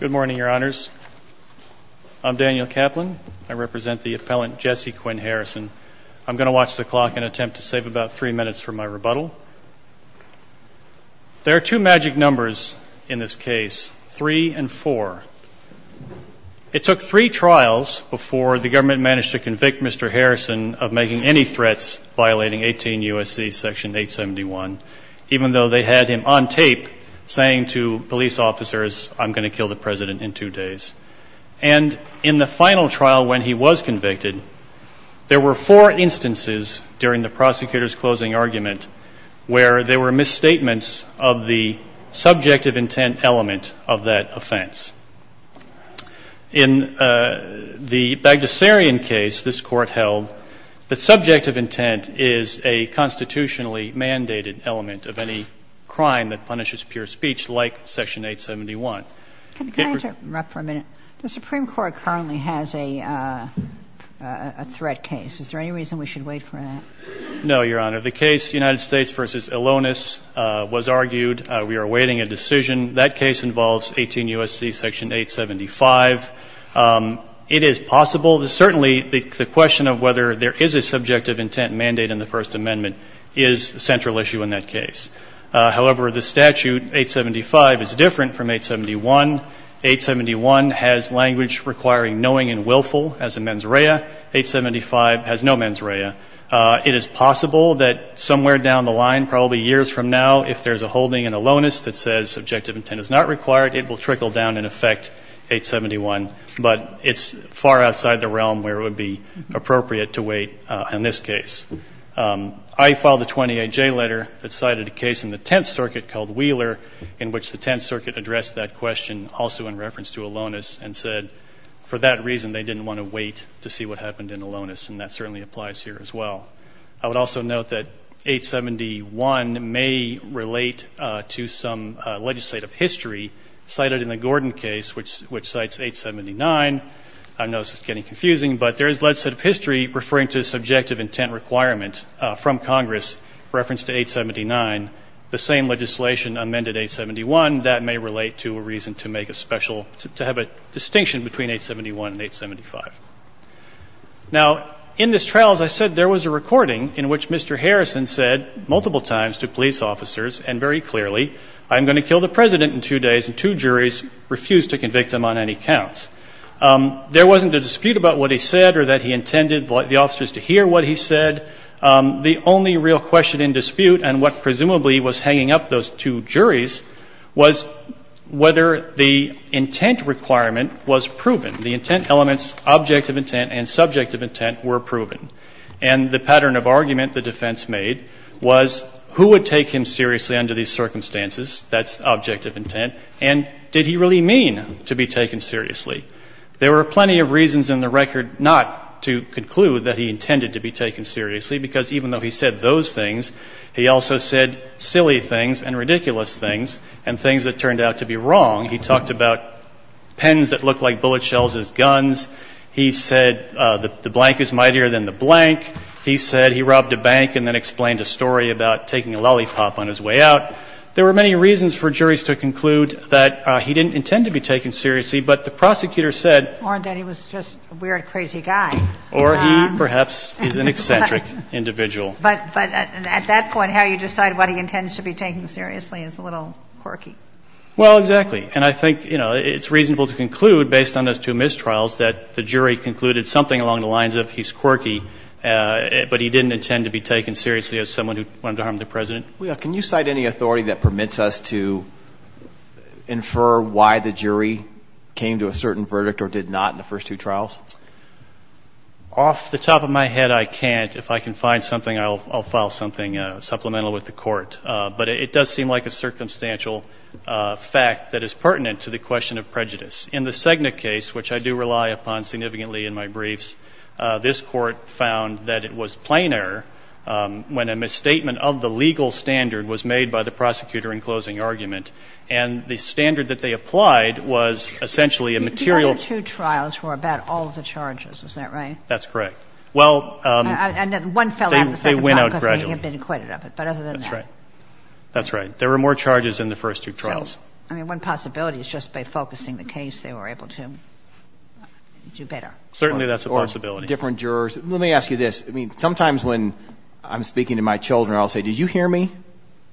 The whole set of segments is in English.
Good morning, your honors. I'm Daniel Kaplan. I represent the appellant Jesse Quinn Harrison. I'm going to watch the clock and attempt to save about three minutes for my rebuttal. There are two magic numbers in this case, three and four. It took three trials before the government managed to convict Mr. Harrison of making any threats violating 18 U.S.C. Section 871, even though they had him on tape saying to police officers, I'm going to kill the President in two days. And in the final trial when he was convicted, there were four instances during the prosecutor's closing argument where there were misstatements of the subjective intent element of that offense. In the Bagdasarian case this Court held that there is a constitutionally mandated element of any crime that punishes pure speech like Section 871. Can I interrupt for a minute? The Supreme Court currently has a threat case. Is there any reason we should wait for that? No, Your Honor. The case United States v. Ilonis was argued. We are awaiting a decision. That case involves 18 U.S.C. Section 875. It is possible. Certainly, the question of whether there is a subjective intent mandate in the First Amendment is a central issue in that case. However, the statute 875 is different from 871. 871 has language requiring knowing and willful as a mens rea. 875 has no mens rea. It is possible that somewhere down the line, probably years from now, if there is a holding in Ilonis that says subjective intent is not required, it will trickle down and affect 871. But it's far outside the realm where it would be appropriate to wait in this case. I filed a 28J letter that cited a case in the Tenth Circuit called Wheeler in which the Tenth Circuit addressed that question also in reference to Ilonis and said for that reason, they didn't want to wait to see what happened in Ilonis. And that certainly applies here as well. I would also note that 871 may relate to some legislative history cited in the Gordon case, which cites 879. I know this is getting confusing, but there is legislative history referring to subjective intent requirement from Congress in reference to 879. The same legislation amended 871. That may relate to a reason to make a special, to have a distinction between 871 and 875. Now, in this trial, as I said, there was a recording in which Mr. Harrison said multiple times to police officers and very clearly, I'm going to kill the president in two days. And two juries refused to convict him on any counts. There wasn't a dispute about what he said or that he intended the officers to hear what he said. The only real question in dispute and what presumably was hanging up those two juries was whether the intent requirement was proven. The intent elements, objective intent and subjective intent, were proven. And the pattern of argument the defense made was who would take him seriously under these circumstances, that's objective intent. And did he really mean to be taken seriously? There were plenty of reasons in the record not to conclude that he intended to be taken seriously because even though he said those things, he also said silly things and ridiculous things and things that turned out to be wrong. He talked about pens that look like bullet shells as guns. He said the blank is mightier than the blank. He said he robbed a bank and then explained a story about taking a lollipop on his way out. There were many reasons for juries to conclude that he didn't intend to be taken seriously, but the prosecutor said or that he was just a weird, crazy guy. Or he perhaps is an eccentric individual. But at that point, how you decide what he intends to be taken seriously is a little quirky. Well, exactly. And I think, you know, it's reasonable to conclude based on those two mistrials that the jury concluded something along the lines of he's quirky, but he didn't intend to be taken seriously as someone who wanted to harm the President. Can you cite any authority that permits us to infer why the jury came to a certain verdict or did not in the first two trials? Off the top of my head, I can't. If I can find something, I'll file something supplemental with the court. But it does seem like a circumstantial fact that is pertinent to the question of prejudice. In the Cegna case, which I do rely upon significantly in my briefs, this court found that it was plain error when a misstatement of the legal standard was made by the prosecutor in closing argument. And the standard that they applied was essentially a material – The other two trials were about all of the charges. Is that right? That's correct. Well – And then one fell out of the second trial because they had been acquitted of it. But other than that – That's right. That's right. There were more charges in the first two trials. I mean, one possibility is just by focusing the case, they were able to do better. Certainly that's a possibility. Let me ask you this. I mean, sometimes when I'm speaking to my children, I'll say, did you hear me?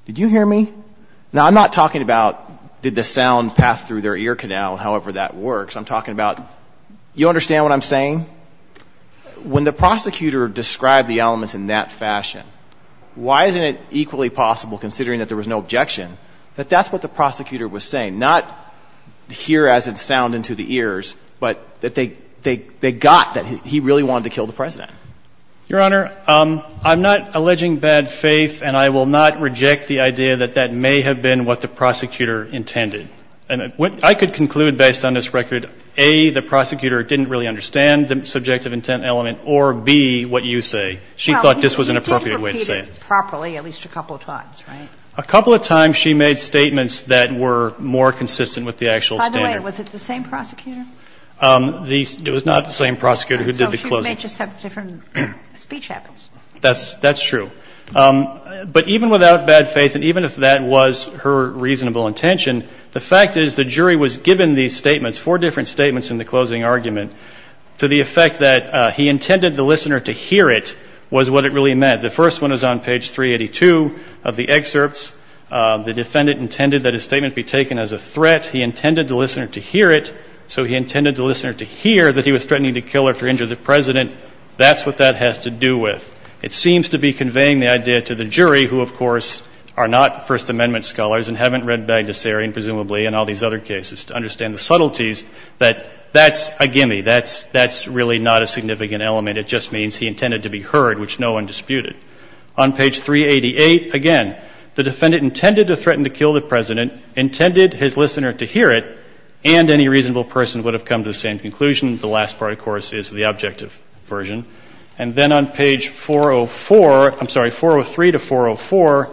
Did you hear me? Now, I'm not talking about did the sound pass through their ear canal and however that works. I'm talking about – you understand what I'm saying? When the prosecutor described the elements in that fashion, why isn't it equally not hear as it sound into the ears, but that they got that he really wanted to kill the President? Your Honor, I'm not alleging bad faith, and I will not reject the idea that that may have been what the prosecutor intended. And I could conclude based on this record, A, the prosecutor didn't really understand the subjective intent element, or B, what you say. She thought this was an appropriate way to say it. Well, he did repeat it properly at least a couple of times, right? A couple of times she made statements that were more consistent with the actual standard. By the way, was it the same prosecutor? The – it was not the same prosecutor who did the closing. So she may just have different speech habits. That's true. But even without bad faith, and even if that was her reasonable intention, the fact is the jury was given these statements, four different statements in the closing argument, to the effect that he intended the listener to hear it was what it really meant. The first one is on page 382 of the excerpts. The defendant intended that his statement be taken as a threat. He intended the listener to hear it, so he intended the listener to hear that he was threatening to kill her for injuring the President. That's what that has to do with. It seems to be conveying the idea to the jury, who, of course, are not First Amendment scholars and haven't read Bagdasarian, presumably, and all these other cases, to understand the subtleties, that that's a gimme. That's really not a significant element. It just means he intended to be heard, which no one disputed. On page 388, again, the defendant intended to threaten to kill the President, intended his listener to hear it, and any reasonable person would have come to the same conclusion. The last part, of course, is the objective version. And then on page 404, I'm sorry, 403 to 404,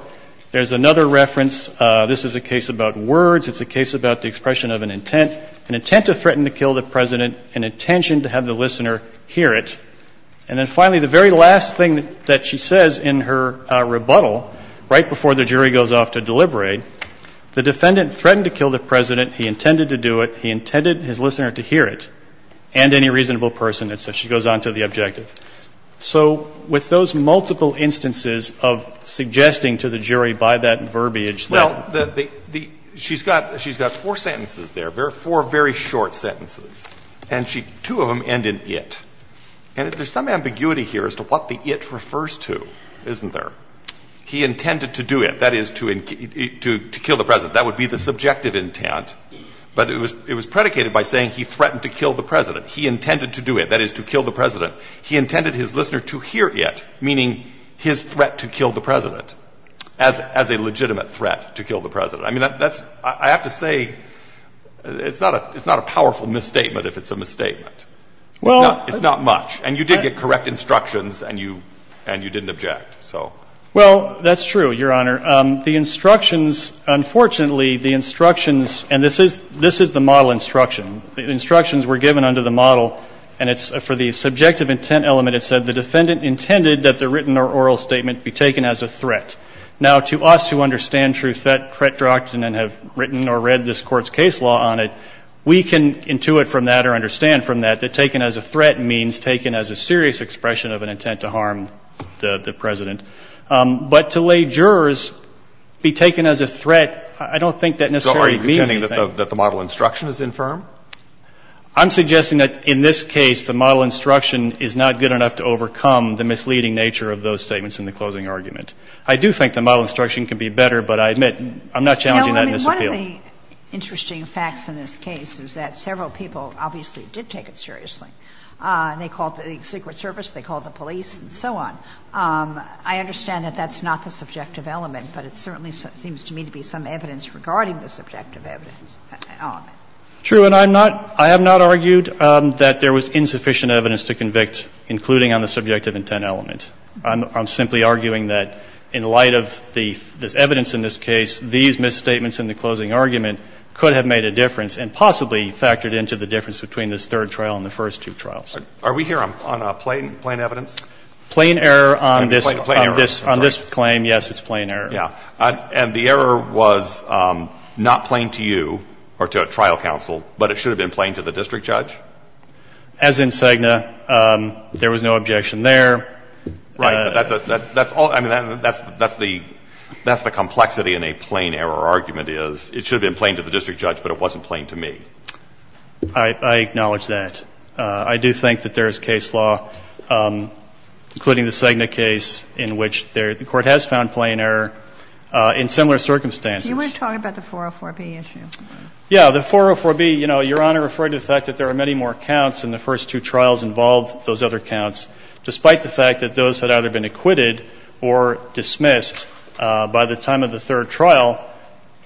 there's another reference. This is a case about words. It's a case about the expression of an intent, an intent to threaten to kill the President, an intention to have the listener hear it. And then, finally, the very last thing that she says in her rebuttal, right before the jury goes off to deliberate, the defendant threatened to kill the President, he intended to do it, he intended his listener to hear it, and any reasonable person, and so she goes on to the objective. So with those multiple instances of suggesting to the jury by that verbiage that the the she's got she's got four sentences there, four very short sentences, and she two of them end in it. And there's some ambiguity here as to what the it refers to, isn't there? He intended to do it, that is, to kill the President. That would be the subjective intent. But it was predicated by saying he threatened to kill the President. He intended to do it, that is, to kill the President. He intended his listener to hear it, meaning his threat to kill the President, as a legitimate threat to kill the President. I mean, that's, I have to say, it's not a powerful misstatement if it's a misstatement. Well. It's not much. And you did get correct instructions, and you and you didn't object, so. Well, that's true, Your Honor. The instructions, unfortunately, the instructions, and this is this is the model instruction, the instructions were given under the model, and it's for the subjective intent element, it said the defendant intended that the written or oral statement be taken as a threat. Now, to us who understand true threat doctrine and have written or read this Court's taken as a threat means taken as a serious expression of an intent to harm the President. But to lay jurors be taken as a threat, I don't think that necessarily means anything. So are you contending that the model instruction is infirm? I'm suggesting that in this case, the model instruction is not good enough to overcome the misleading nature of those statements in the closing argument. I do think the model instruction can be better, but I admit I'm not challenging that misappeal. No, I mean, one of the interesting facts in this case is that several people obviously did take it seriously. They called the Secret Service, they called the police, and so on. I understand that that's not the subjective element, but it certainly seems to me to be some evidence regarding the subjective evidence element. True, and I'm not, I have not argued that there was insufficient evidence to convict, including on the subjective intent element. I'm simply arguing that in light of the evidence in this case, these misstatements in the closing argument could have made a difference and possibly factored into the third trial and the first two trials. Are we here on plain evidence? Plain error on this claim, yes, it's plain error. Yeah. And the error was not plain to you or to a trial counsel, but it should have been plain to the district judge? As in Cegna, there was no objection there. Right, but that's all, I mean, that's the complexity in a plain error argument is it should have been plain to the district judge, but it wasn't plain to me. I acknowledge that. I do think that there is case law, including the Cegna case, in which the Court has found plain error in similar circumstances. You want to talk about the 404B issue? Yeah. The 404B, you know, Your Honor referred to the fact that there are many more counts in the first two trials involved, those other counts, despite the fact that those had either been acquitted or dismissed by the time of the third trial,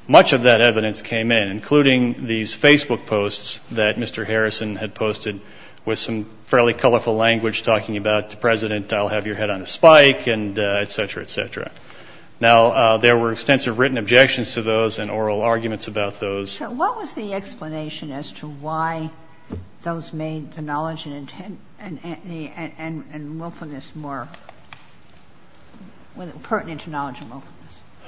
much of that Mr. Harrison had posted with some fairly colorful language talking about, President, I'll have your head on a spike, et cetera, et cetera. Now, there were extensive written objections to those and oral arguments about those. So what was the explanation as to why those made the knowledge and willfulness more pertinent to knowledge and willfulness?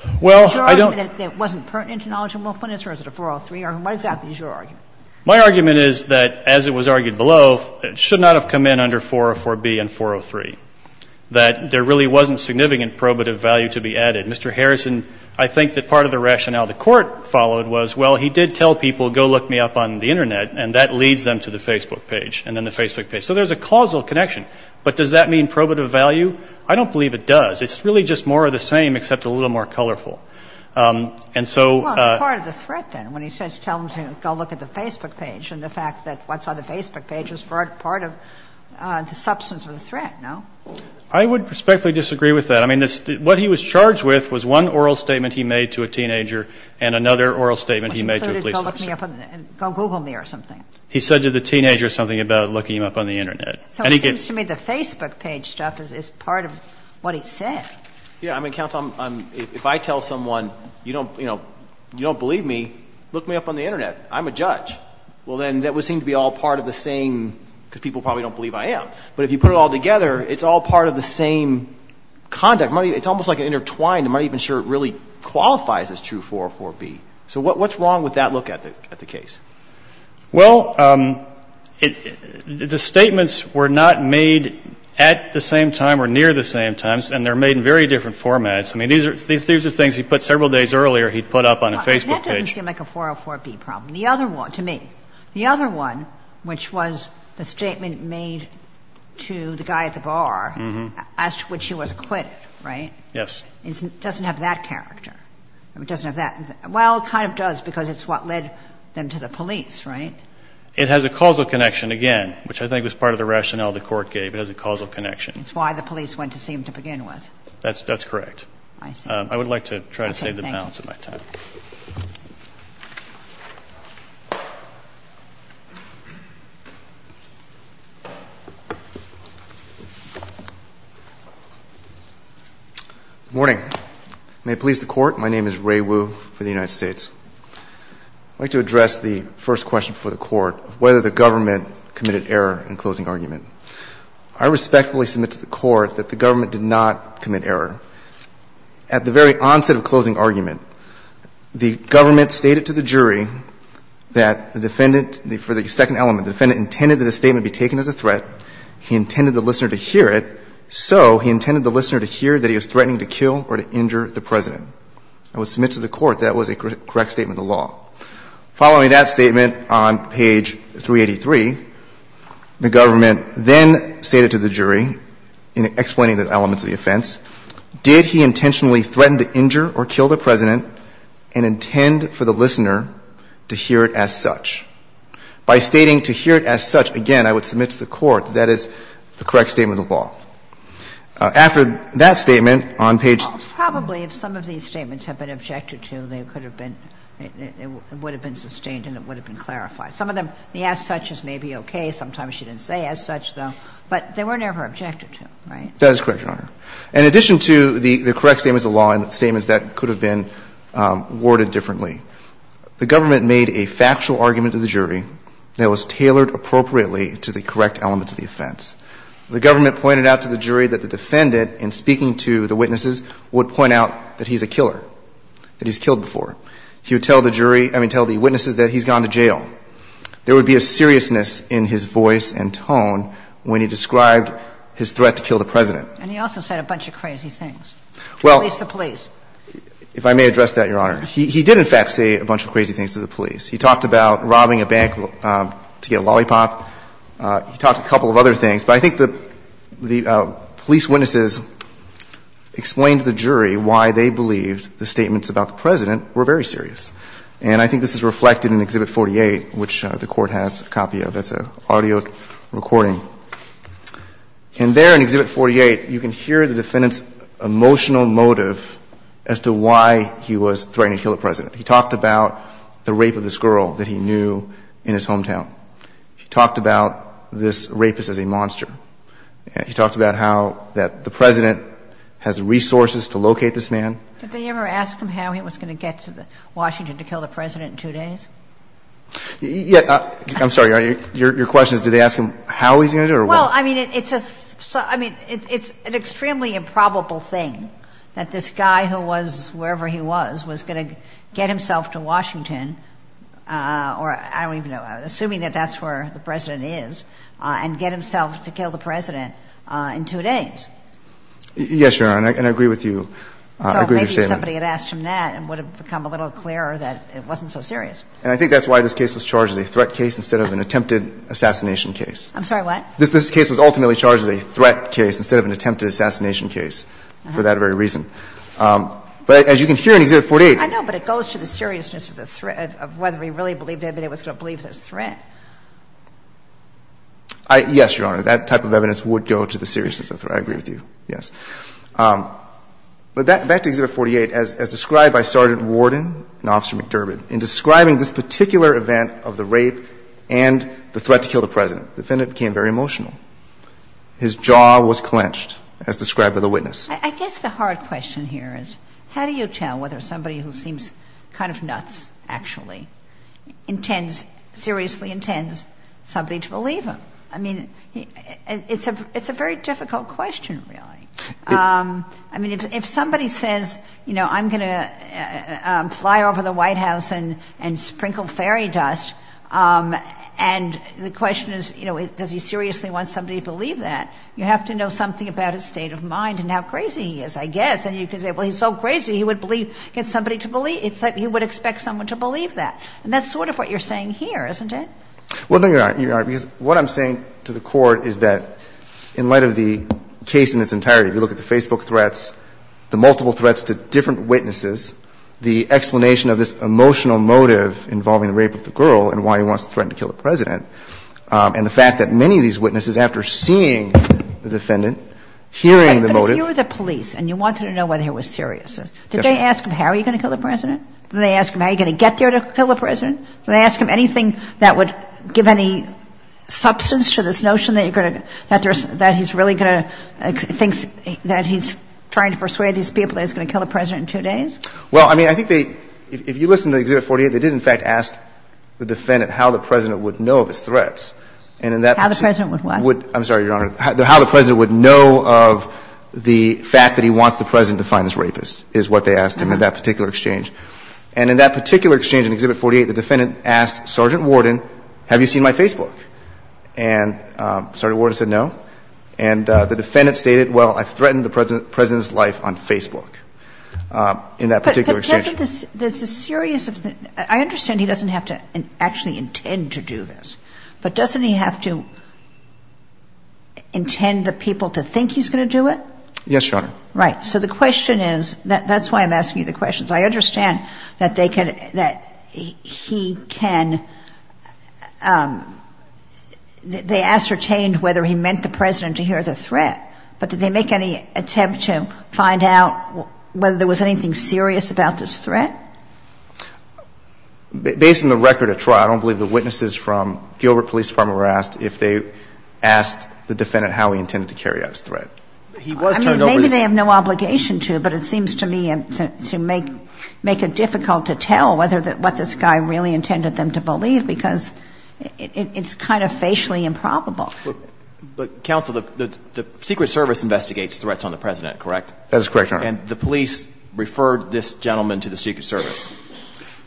Is your argument that it wasn't pertinent to knowledge and willfulness or is it a 403? What exactly is your argument? My argument is that, as it was argued below, it should not have come in under 404B and 403, that there really wasn't significant probative value to be added. Mr. Harrison, I think that part of the rationale the Court followed was, well, he did tell people, go look me up on the Internet, and that leads them to the Facebook page and then the Facebook page. So there's a causal connection. But does that mean probative value? I don't believe it does. It's really just more of the same, except a little more colorful. And so — But he didn't tell them to go look at the Facebook page and the fact that what's on the Facebook page is part of the substance of the threat, no? I would respectfully disagree with that. I mean, what he was charged with was one oral statement he made to a teenager and another oral statement he made to a police officer. Which included, go look me up on the Internet, go Google me or something. He said to the teenager something about looking him up on the Internet. So it seems to me the Facebook page stuff is part of what he said. Yes. I mean, Counsel, if I tell someone, you don't believe me, look me up on the Internet I'm a judge. Well, then that would seem to be all part of the same, because people probably don't believe I am. But if you put it all together, it's all part of the same conduct. It's almost like an intertwined, I'm not even sure it really qualifies as true 404B. So what's wrong with that look at the case? Well, the statements were not made at the same time or near the same time. And they're made in very different formats. I mean, these are things he put several days earlier he'd put up on a Facebook page. And that doesn't seem like a 404B problem. The other one, to me, the other one, which was the statement made to the guy at the bar, as to when she was acquitted, right? Yes. It doesn't have that character. It doesn't have that. Well, it kind of does, because it's what led them to the police, right? It has a causal connection, again, which I think was part of the rationale the Court gave. It has a causal connection. It's why the police went to see him to begin with. That's correct. I see. I would like to try to save the balance of my time. Thank you. Good morning. May it please the Court, my name is Ray Wu for the United States. I'd like to address the first question before the Court of whether the government committed error in closing argument. I respectfully submit to the Court that the government did not commit error. At the very onset of closing argument, the government stated to the jury that the defendant, for the second element, the defendant intended that the statement be taken as a threat. He intended the listener to hear it. So he intended the listener to hear that he was threatening to kill or to injure the President. I would submit to the Court that was a correct statement of the law. Following that statement on page 383, the government then stated to the jury, in this case, did he intentionally threaten to injure or kill the President and intend for the listener to hear it as such. By stating to hear it as such, again, I would submit to the Court that that is the correct statement of the law. After that statement on page 383, the government then stated to the jury, did he intentionally The government made a factual argument to the jury that was tailored appropriately to the correct elements of the offense. The government pointed out to the jury that the defendant, in speaking to the witnesses, would point out that he's a killer, that he's killed before. He would tell the jury – I mean, tell the witnesses that he's gone to jail. There would be a seriousness in his voice and tone when he described his threat to kill the President. And he also said a bunch of crazy things to police the police. Well, if I may address that, Your Honor. He did, in fact, say a bunch of crazy things to the police. He talked about robbing a bank to get a lollipop. He talked a couple of other things. But I think the police witnesses explained to the jury why they believed the statements about the President were very serious. And I think this is reflected in Exhibit 48, which the Court has a copy of. That's an audio recording. And there in Exhibit 48, you can hear the defendant's emotional motive as to why he was threatening to kill the President. He talked about the rape of this girl that he knew in his hometown. He talked about this rapist as a monster. He talked about how that the President has the resources to locate this man. Did they ever ask him how he was going to get to Washington to kill the President in two days? I'm sorry. Your question is did they ask him how he was going to do it or what? Well, I mean, it's an extremely improbable thing that this guy who was wherever he was was going to get himself to Washington, or I don't even know, assuming that that's where the President is, and get himself to kill the President in two days. Yes, Your Honor, and I agree with you. I agree with your statement. So maybe somebody had asked him that and it would have become a little clearer that it wasn't so serious. And I think that's why this case was charged as a threat case instead of an attempted assassination case. I'm sorry. What? This case was ultimately charged as a threat case instead of an attempted assassination case for that very reason. But as you can hear in Exhibit 48. I know, but it goes to the seriousness of the threat of whether he really believed anybody was going to believe it was a threat. Yes, Your Honor. That type of evidence would go to the seriousness of the threat. I agree with you. Yes. But back to Exhibit 48, as described by Sergeant Warden and Officer McDurbin, in describing this particular event of the rape and the threat to kill the President, the defendant became very emotional. His jaw was clenched, as described by the witness. I guess the hard question here is how do you tell whether somebody who seems kind of nuts, actually, intends, seriously intends somebody to believe him? I mean, it's a very difficult question, really. I mean, if somebody says, you know, I'm going to fly over the White House and sprinkle fairy dust, and the question is, you know, does he seriously want somebody to believe that, you have to know something about his state of mind and how crazy he is, I guess. And you can say, well, he's so crazy he would believe, get somebody to believe he would expect somebody to believe that. And that's sort of what you're saying here, isn't it? Well, no, Your Honor, because what I'm saying to the Court is that in light of the case in its entirety, if you look at the Facebook threats, the multiple threats to different witnesses, the explanation of this emotional motive involving the rape of the girl and why he wants to threaten to kill the President, and the fact that many of these witnesses, after seeing the defendant, hearing the motive. But if you were the police and you wanted to know whether he was serious, did they ask him how he was going to kill the President? Did they ask him how he was going to get there to kill the President? Did they ask him anything that would give any substance to this notion that he's really going to think that he's trying to persuade these people that he's going to kill the President in two days? Well, I mean, I think they, if you listen to Exhibit 48, they did, in fact, ask the defendant how the President would know of his threats. And in that. How the President would what? I'm sorry, Your Honor. How the President would know of the fact that he wants the President to find this rapist is what they asked him in that particular exchange. And in that particular exchange, in Exhibit 48, the defendant asked Sergeant Worden, have you seen my Facebook? And Sergeant Worden said no. And the defendant stated, well, I've threatened the President's life on Facebook in that particular exchange. But doesn't this – there's a serious – I understand he doesn't have to actually intend to do this, but doesn't he have to intend the people to think he's going to do it? Yes, Your Honor. Right. So the question is – that's why I'm asking you the questions. I understand that they can – that he can – they ascertained whether he meant the President to hear the threat. But did they make any attempt to find out whether there was anything serious about this threat? Based on the record of trial, I don't believe the witnesses from Gilbert Police Department were asked if they asked the defendant how he intended to carry out his threat. He was turned over the – Maybe they have no obligation to, but it seems to me to make it difficult to tell whether – what this guy really intended them to believe because it's kind of facially improbable. But, Counsel, the Secret Service investigates threats on the President, correct? That is correct, Your Honor. And the police referred this gentleman to the Secret Service.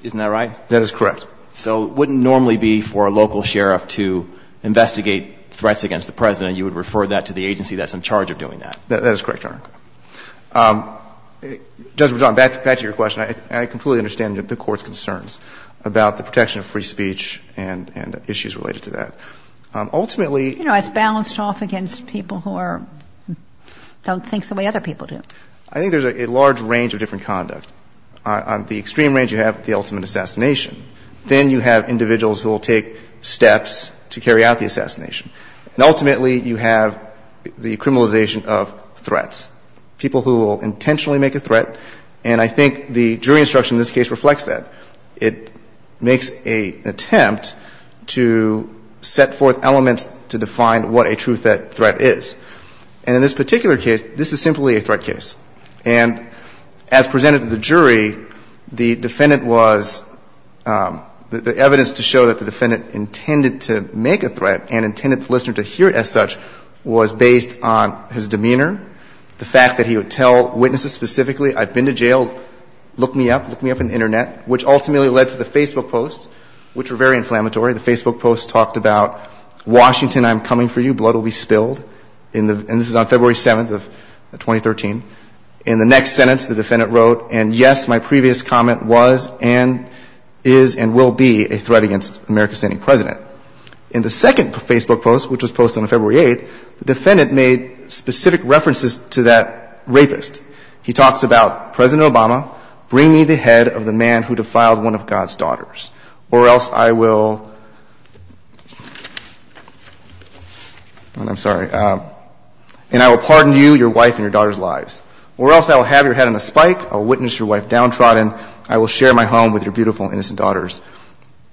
Isn't that right? That is correct. So it wouldn't normally be for a local sheriff to investigate threats against the President. You would refer that to the agency that's in charge of doing that. That is correct, Your Honor. Justice Breyer, back to your question. I completely understand the Court's concerns about the protection of free speech and issues related to that. Ultimately – You know, it's balanced off against people who are – don't think the way other people do. I think there's a large range of different conduct. On the extreme range, you have the ultimate assassination. Then you have individuals who will take steps to carry out the assassination. And ultimately, you have the criminalization of threats, people who will intentionally make a threat. And I think the jury instruction in this case reflects that. It makes an attempt to set forth elements to define what a true threat is. And in this particular case, this is simply a threat case. And as presented to the jury, the defendant was – the evidence to show that the defendant intended to make a threat and intended the listener to hear it as such was based on his demeanor, the fact that he would tell witnesses specifically, I've been to jail, look me up, look me up on the Internet, which ultimately led to the Facebook post, which were very inflammatory. The Facebook post talked about, Washington, I'm coming for you, blood will be spilled. And this is on February 7th of 2013. In the next sentence, the defendant wrote, and yes, my previous comment was and is and will be a threat against an American-standing president. In the second Facebook post, which was posted on February 8th, the defendant made specific references to that rapist. He talks about, President Obama, bring me the head of the man who defiled one of God's daughters, or else I will – I'm sorry. And I will pardon you, your wife, and your daughter's lives. Or else I will have your head in a spike, I will witness your wife downtrodden, I will share my home with your beautiful, innocent daughters.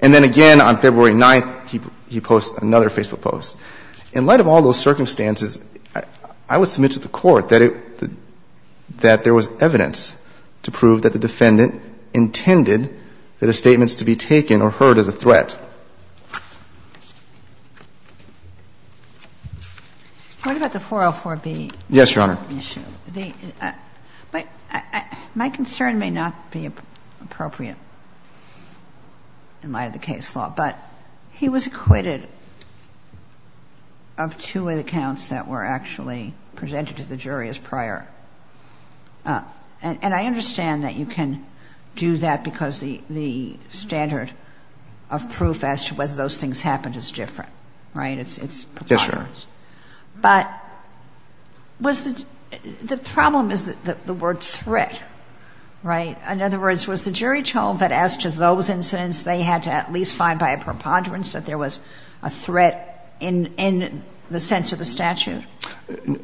And then again, on February 9th, he posts another Facebook post. In light of all those circumstances, I would submit to the Court that it – that there was evidence to prove that the defendant intended that his statements to be taken or heard as a threat. Ginsburg. What about the 404b? Yes, Your Honor. My concern may not be appropriate in light of the case law, but he was acquitted of two accounts that were actually presented to the jury as prior. And I understand that you can do that because the standard of proof as to whether those things happened is different, right? It's providers. Yes, Your Honor. But was the – the problem is the word threat, right? In other words, was the jury told that as to those incidents, they had to at least find by a preponderance that there was a threat in the sense of the statute?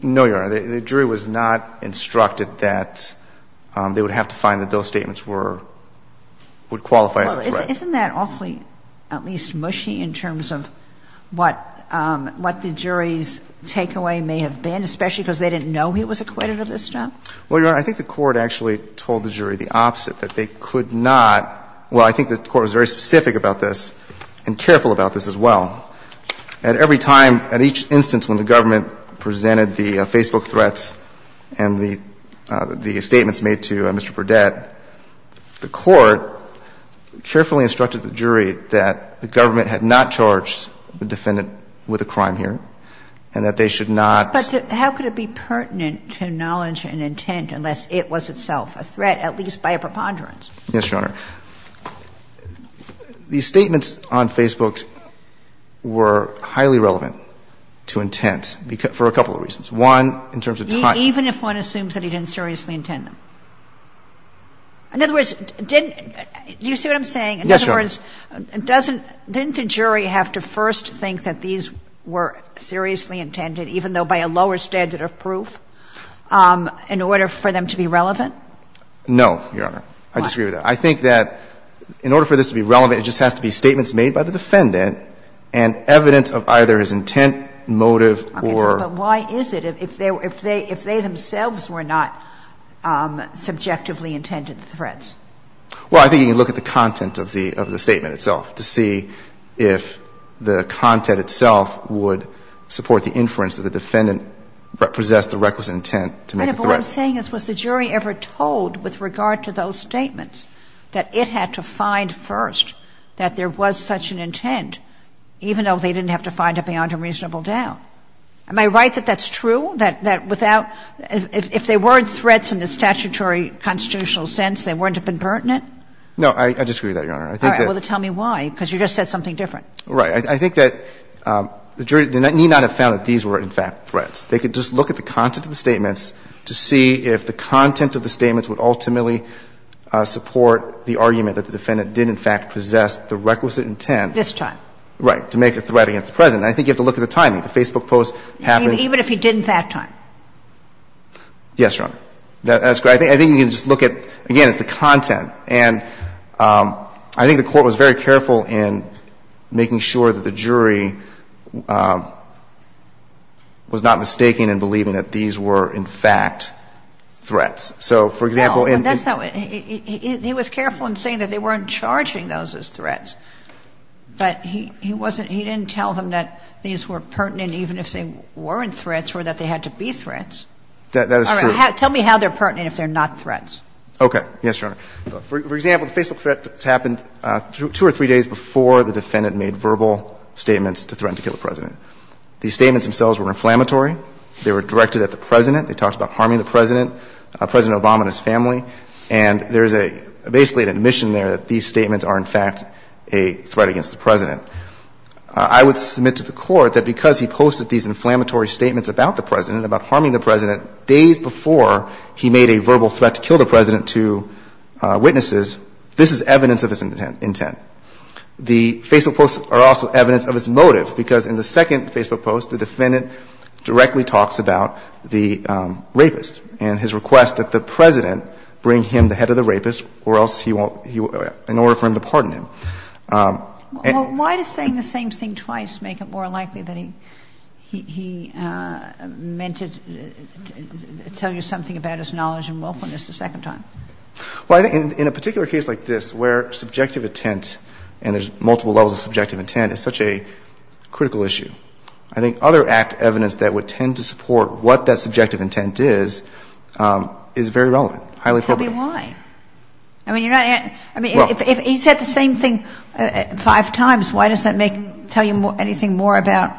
No, Your Honor. The jury was not instructed that they would have to find that those statements were – would qualify as a threat. Isn't that awfully, at least, mushy in terms of what the jury's takeaway may have been, especially because they didn't know he was acquitted of this stuff? Well, Your Honor, I think the court actually told the jury the opposite, that they could not – well, I think the court was very specific about this and careful about this as well. At every time, at each instance when the government presented the Facebook threats and the statements made to Mr. Burdett, the court carefully instructed the jury that the government had not charged the defendant with a crime here and that they should not – But how could it be pertinent to knowledge and intent unless it was itself a threat, at least by a preponderance? Yes, Your Honor. The statements on Facebook were highly relevant to intent for a couple of reasons. One, in terms of time. Even if one assumes that he didn't seriously intend them? In other words, didn't – do you see what I'm saying? Yes, Your Honor. In other words, doesn't – didn't the jury have to first think that these were seriously intended, even though by a lower standard of proof, in order for them to be relevant? No, Your Honor. I disagree with that. I think that in order for this to be relevant, it just has to be statements made by the defendant and evidence of either his intent, motive, or – Okay. But why is it, if they were – if they themselves were not subjectively intended threats? Well, I think you can look at the content of the statement itself to see if the content itself would support the inference that the defendant possessed the requisite intent to make a threat. But if what I'm saying is, was the jury ever told with regard to those statements that it had to find first that there was such an intent, even though they didn't have to find it beyond a reasonable doubt? Am I right that that's true, that without – if they weren't threats in the statutory constitutional sense, they wouldn't have been pertinent? No, I disagree with that, Your Honor. I think that – All right. Well, then tell me why, because you just said something different. I think that the jury need not have found that these were, in fact, threats. They could just look at the content of the statements to see if the content of the statements would ultimately support the argument that the defendant did, in fact, possess the requisite intent – This time. Right. To make a threat against the President. And I think you have to look at the timing. The Facebook post happens – Even if he didn't that time? Yes, Your Honor. That's correct. I think you can just look at, again, at the content. And I think the Court was very careful in making sure that the jury was not mistaken in believing that these were, in fact, threats. So, for example, in – those as threats. But he wasn't – he didn't tell them that these were pertinent even if they weren't threats or that they had to be threats. That is true. All right. Tell me how they're pertinent if they're not threats. Okay. Yes, Your Honor. For example, the Facebook threat that's happened two or three days before the defendant made verbal statements to threaten to kill the President. These statements themselves were inflammatory. They were directed at the President. They talked about harming the President, President Obama and his family. And there is a – basically an admission there that these statements are, in fact, a threat against the President. I would submit to the Court that because he posted these inflammatory statements about the President, about harming the President, days before he made a verbal threat to kill the President to witnesses, this is evidence of his intent. The Facebook posts are also evidence of his motive, because in the second Facebook post, the defendant directly talks about the rapist and his request that the President bring him the head of the rapist or else he won't – in order for him to pardon him. Well, why does saying the same thing twice make it more likely that he meant to tell you something about his knowledge and willfulness the second time? Well, I think in a particular case like this where subjective intent – and there's multiple levels of subjective intent – is such a critical issue, I think other act evidence that would tend to support what that subjective intent is, is very relevant. Probably why? I mean, you're not – I mean, if he said the same thing five times, why does that make – tell you anything more about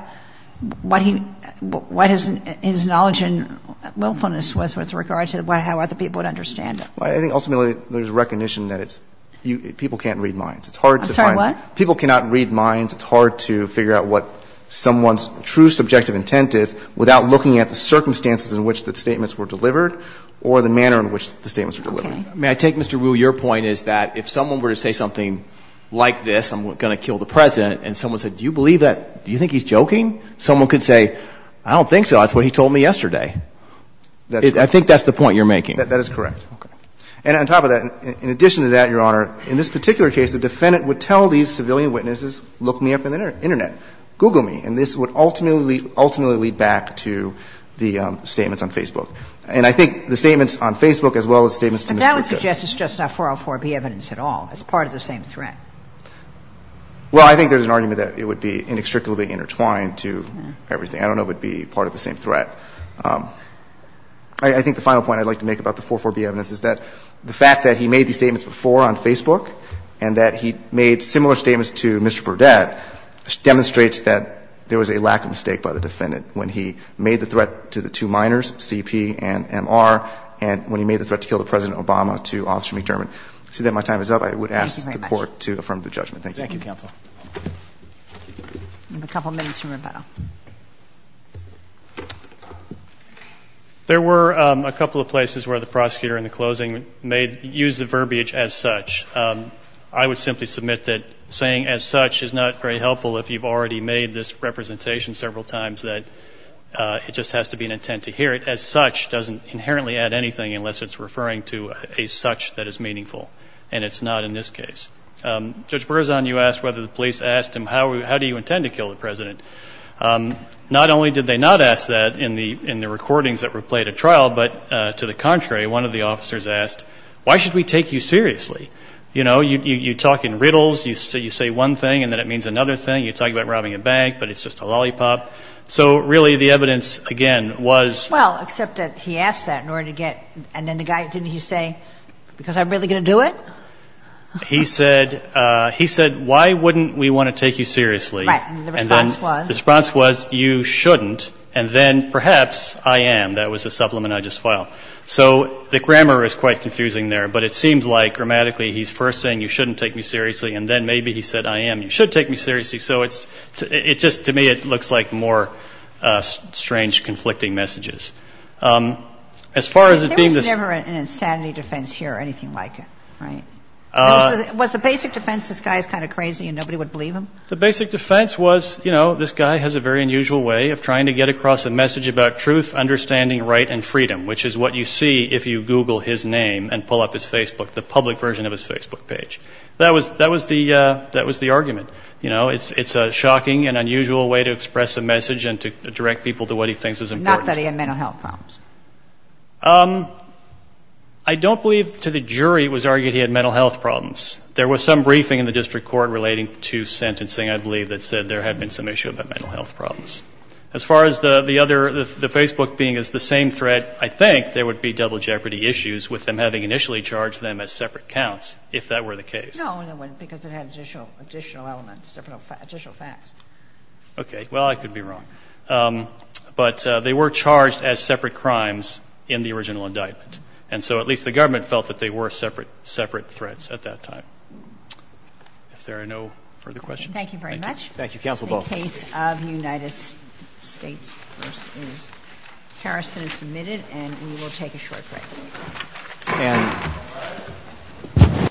what he – what his knowledge and willfulness was with regard to how other people would understand it? Well, I think ultimately there's recognition that it's – people can't read minds. It's hard to find – I'm sorry, what? People cannot read minds. It's hard to figure out what someone's true subjective intent is without looking at the circumstances in which the statements were delivered or the manner in which the statements were delivered. May I take, Mr. Wu, your point is that if someone were to say something like this, I'm going to kill the President, and someone said, do you believe that – do you think he's joking? Someone could say, I don't think so, that's what he told me yesterday. I think that's the point you're making. That is correct. Okay. And on top of that, in addition to that, Your Honor, in this particular case, the defendant would tell these civilian witnesses, look me up on the Internet, Google me. And this would ultimately – ultimately lead back to the statements on Facebook. And I think the statements on Facebook as well as statements to Mr. Burdett. But that would suggest it's just not 404B evidence at all. It's part of the same threat. Well, I think there's an argument that it would be inextricably intertwined to everything. I don't know if it would be part of the same threat. I think the final point I'd like to make about the 404B evidence is that the fact that he made these statements before on Facebook and that he made similar statements to Mr. Burdett demonstrates that there was a lack of mistake by the defendant when he made the threat to the two minors, CP and MR, and when he made the threat to kill President Obama, to Officer McDermott. With that, my time is up. I would ask the Court to affirm the judgment. Thank you. Thank you, counsel. We have a couple of minutes for rebuttal. There were a couple of places where the prosecutor in the closing made – used the verbiage as such. I would simply submit that saying as such is not very helpful if you've already made this representation several times that it just has to be an intent to hear it. As such doesn't inherently add anything unless it's referring to a such that is meaningful, and it's not in this case. Judge Berzon, you asked whether the police asked him how do you intend to kill the President. Not only did they not ask that in the recordings that were played at trial, but to the contrary, one of the officers asked, why should we take you seriously? You know, you talk in riddles, you say one thing and then it means another thing. You talk about robbing a bank, but it's just a lollipop. So really, the evidence, again, was – Well, except that he asked that in order to get – and then the guy – didn't he say, because I'm really going to do it? He said – he said, why wouldn't we want to take you seriously? Right, and the response was – The response was, you shouldn't, and then perhaps I am. And that was the supplement I just filed. So the grammar is quite confusing there, but it seems like grammatically he's first saying you shouldn't take me seriously, and then maybe he said I am, you should take me seriously. So it's – it just – to me, it looks like more strange, conflicting messages. As far as it – There was never an insanity defense here or anything like it, right? Was the basic defense this guy is kind of crazy and nobody would believe him? The basic defense was, you know, this guy has a very unusual way of trying to get across a message about truth, understanding, right, and freedom, which is what you see if you Google his name and pull up his Facebook, the public version of his Facebook page. That was – that was the – that was the argument. You know, it's a shocking and unusual way to express a message and to direct people to what he thinks is important. Not that he had mental health problems. I don't believe to the jury it was argued he had mental health problems. There was some briefing in the district court relating to sentencing, I believe, that said there had been some issue about mental health problems. As far as the other – the Facebook being the same threat, I think there would be double jeopardy issues with them having initially charged them as separate counts, if that were the case. No, because it had additional elements, additional facts. Okay. Well, I could be wrong. But they were charged as separate crimes in the original indictment. And so at least the government felt that they were separate threats at that time. If there are no further questions. Thank you. Thank you very much. Thank you. Counsel both. The case of United States v. Harrison is submitted, and we will take a short break.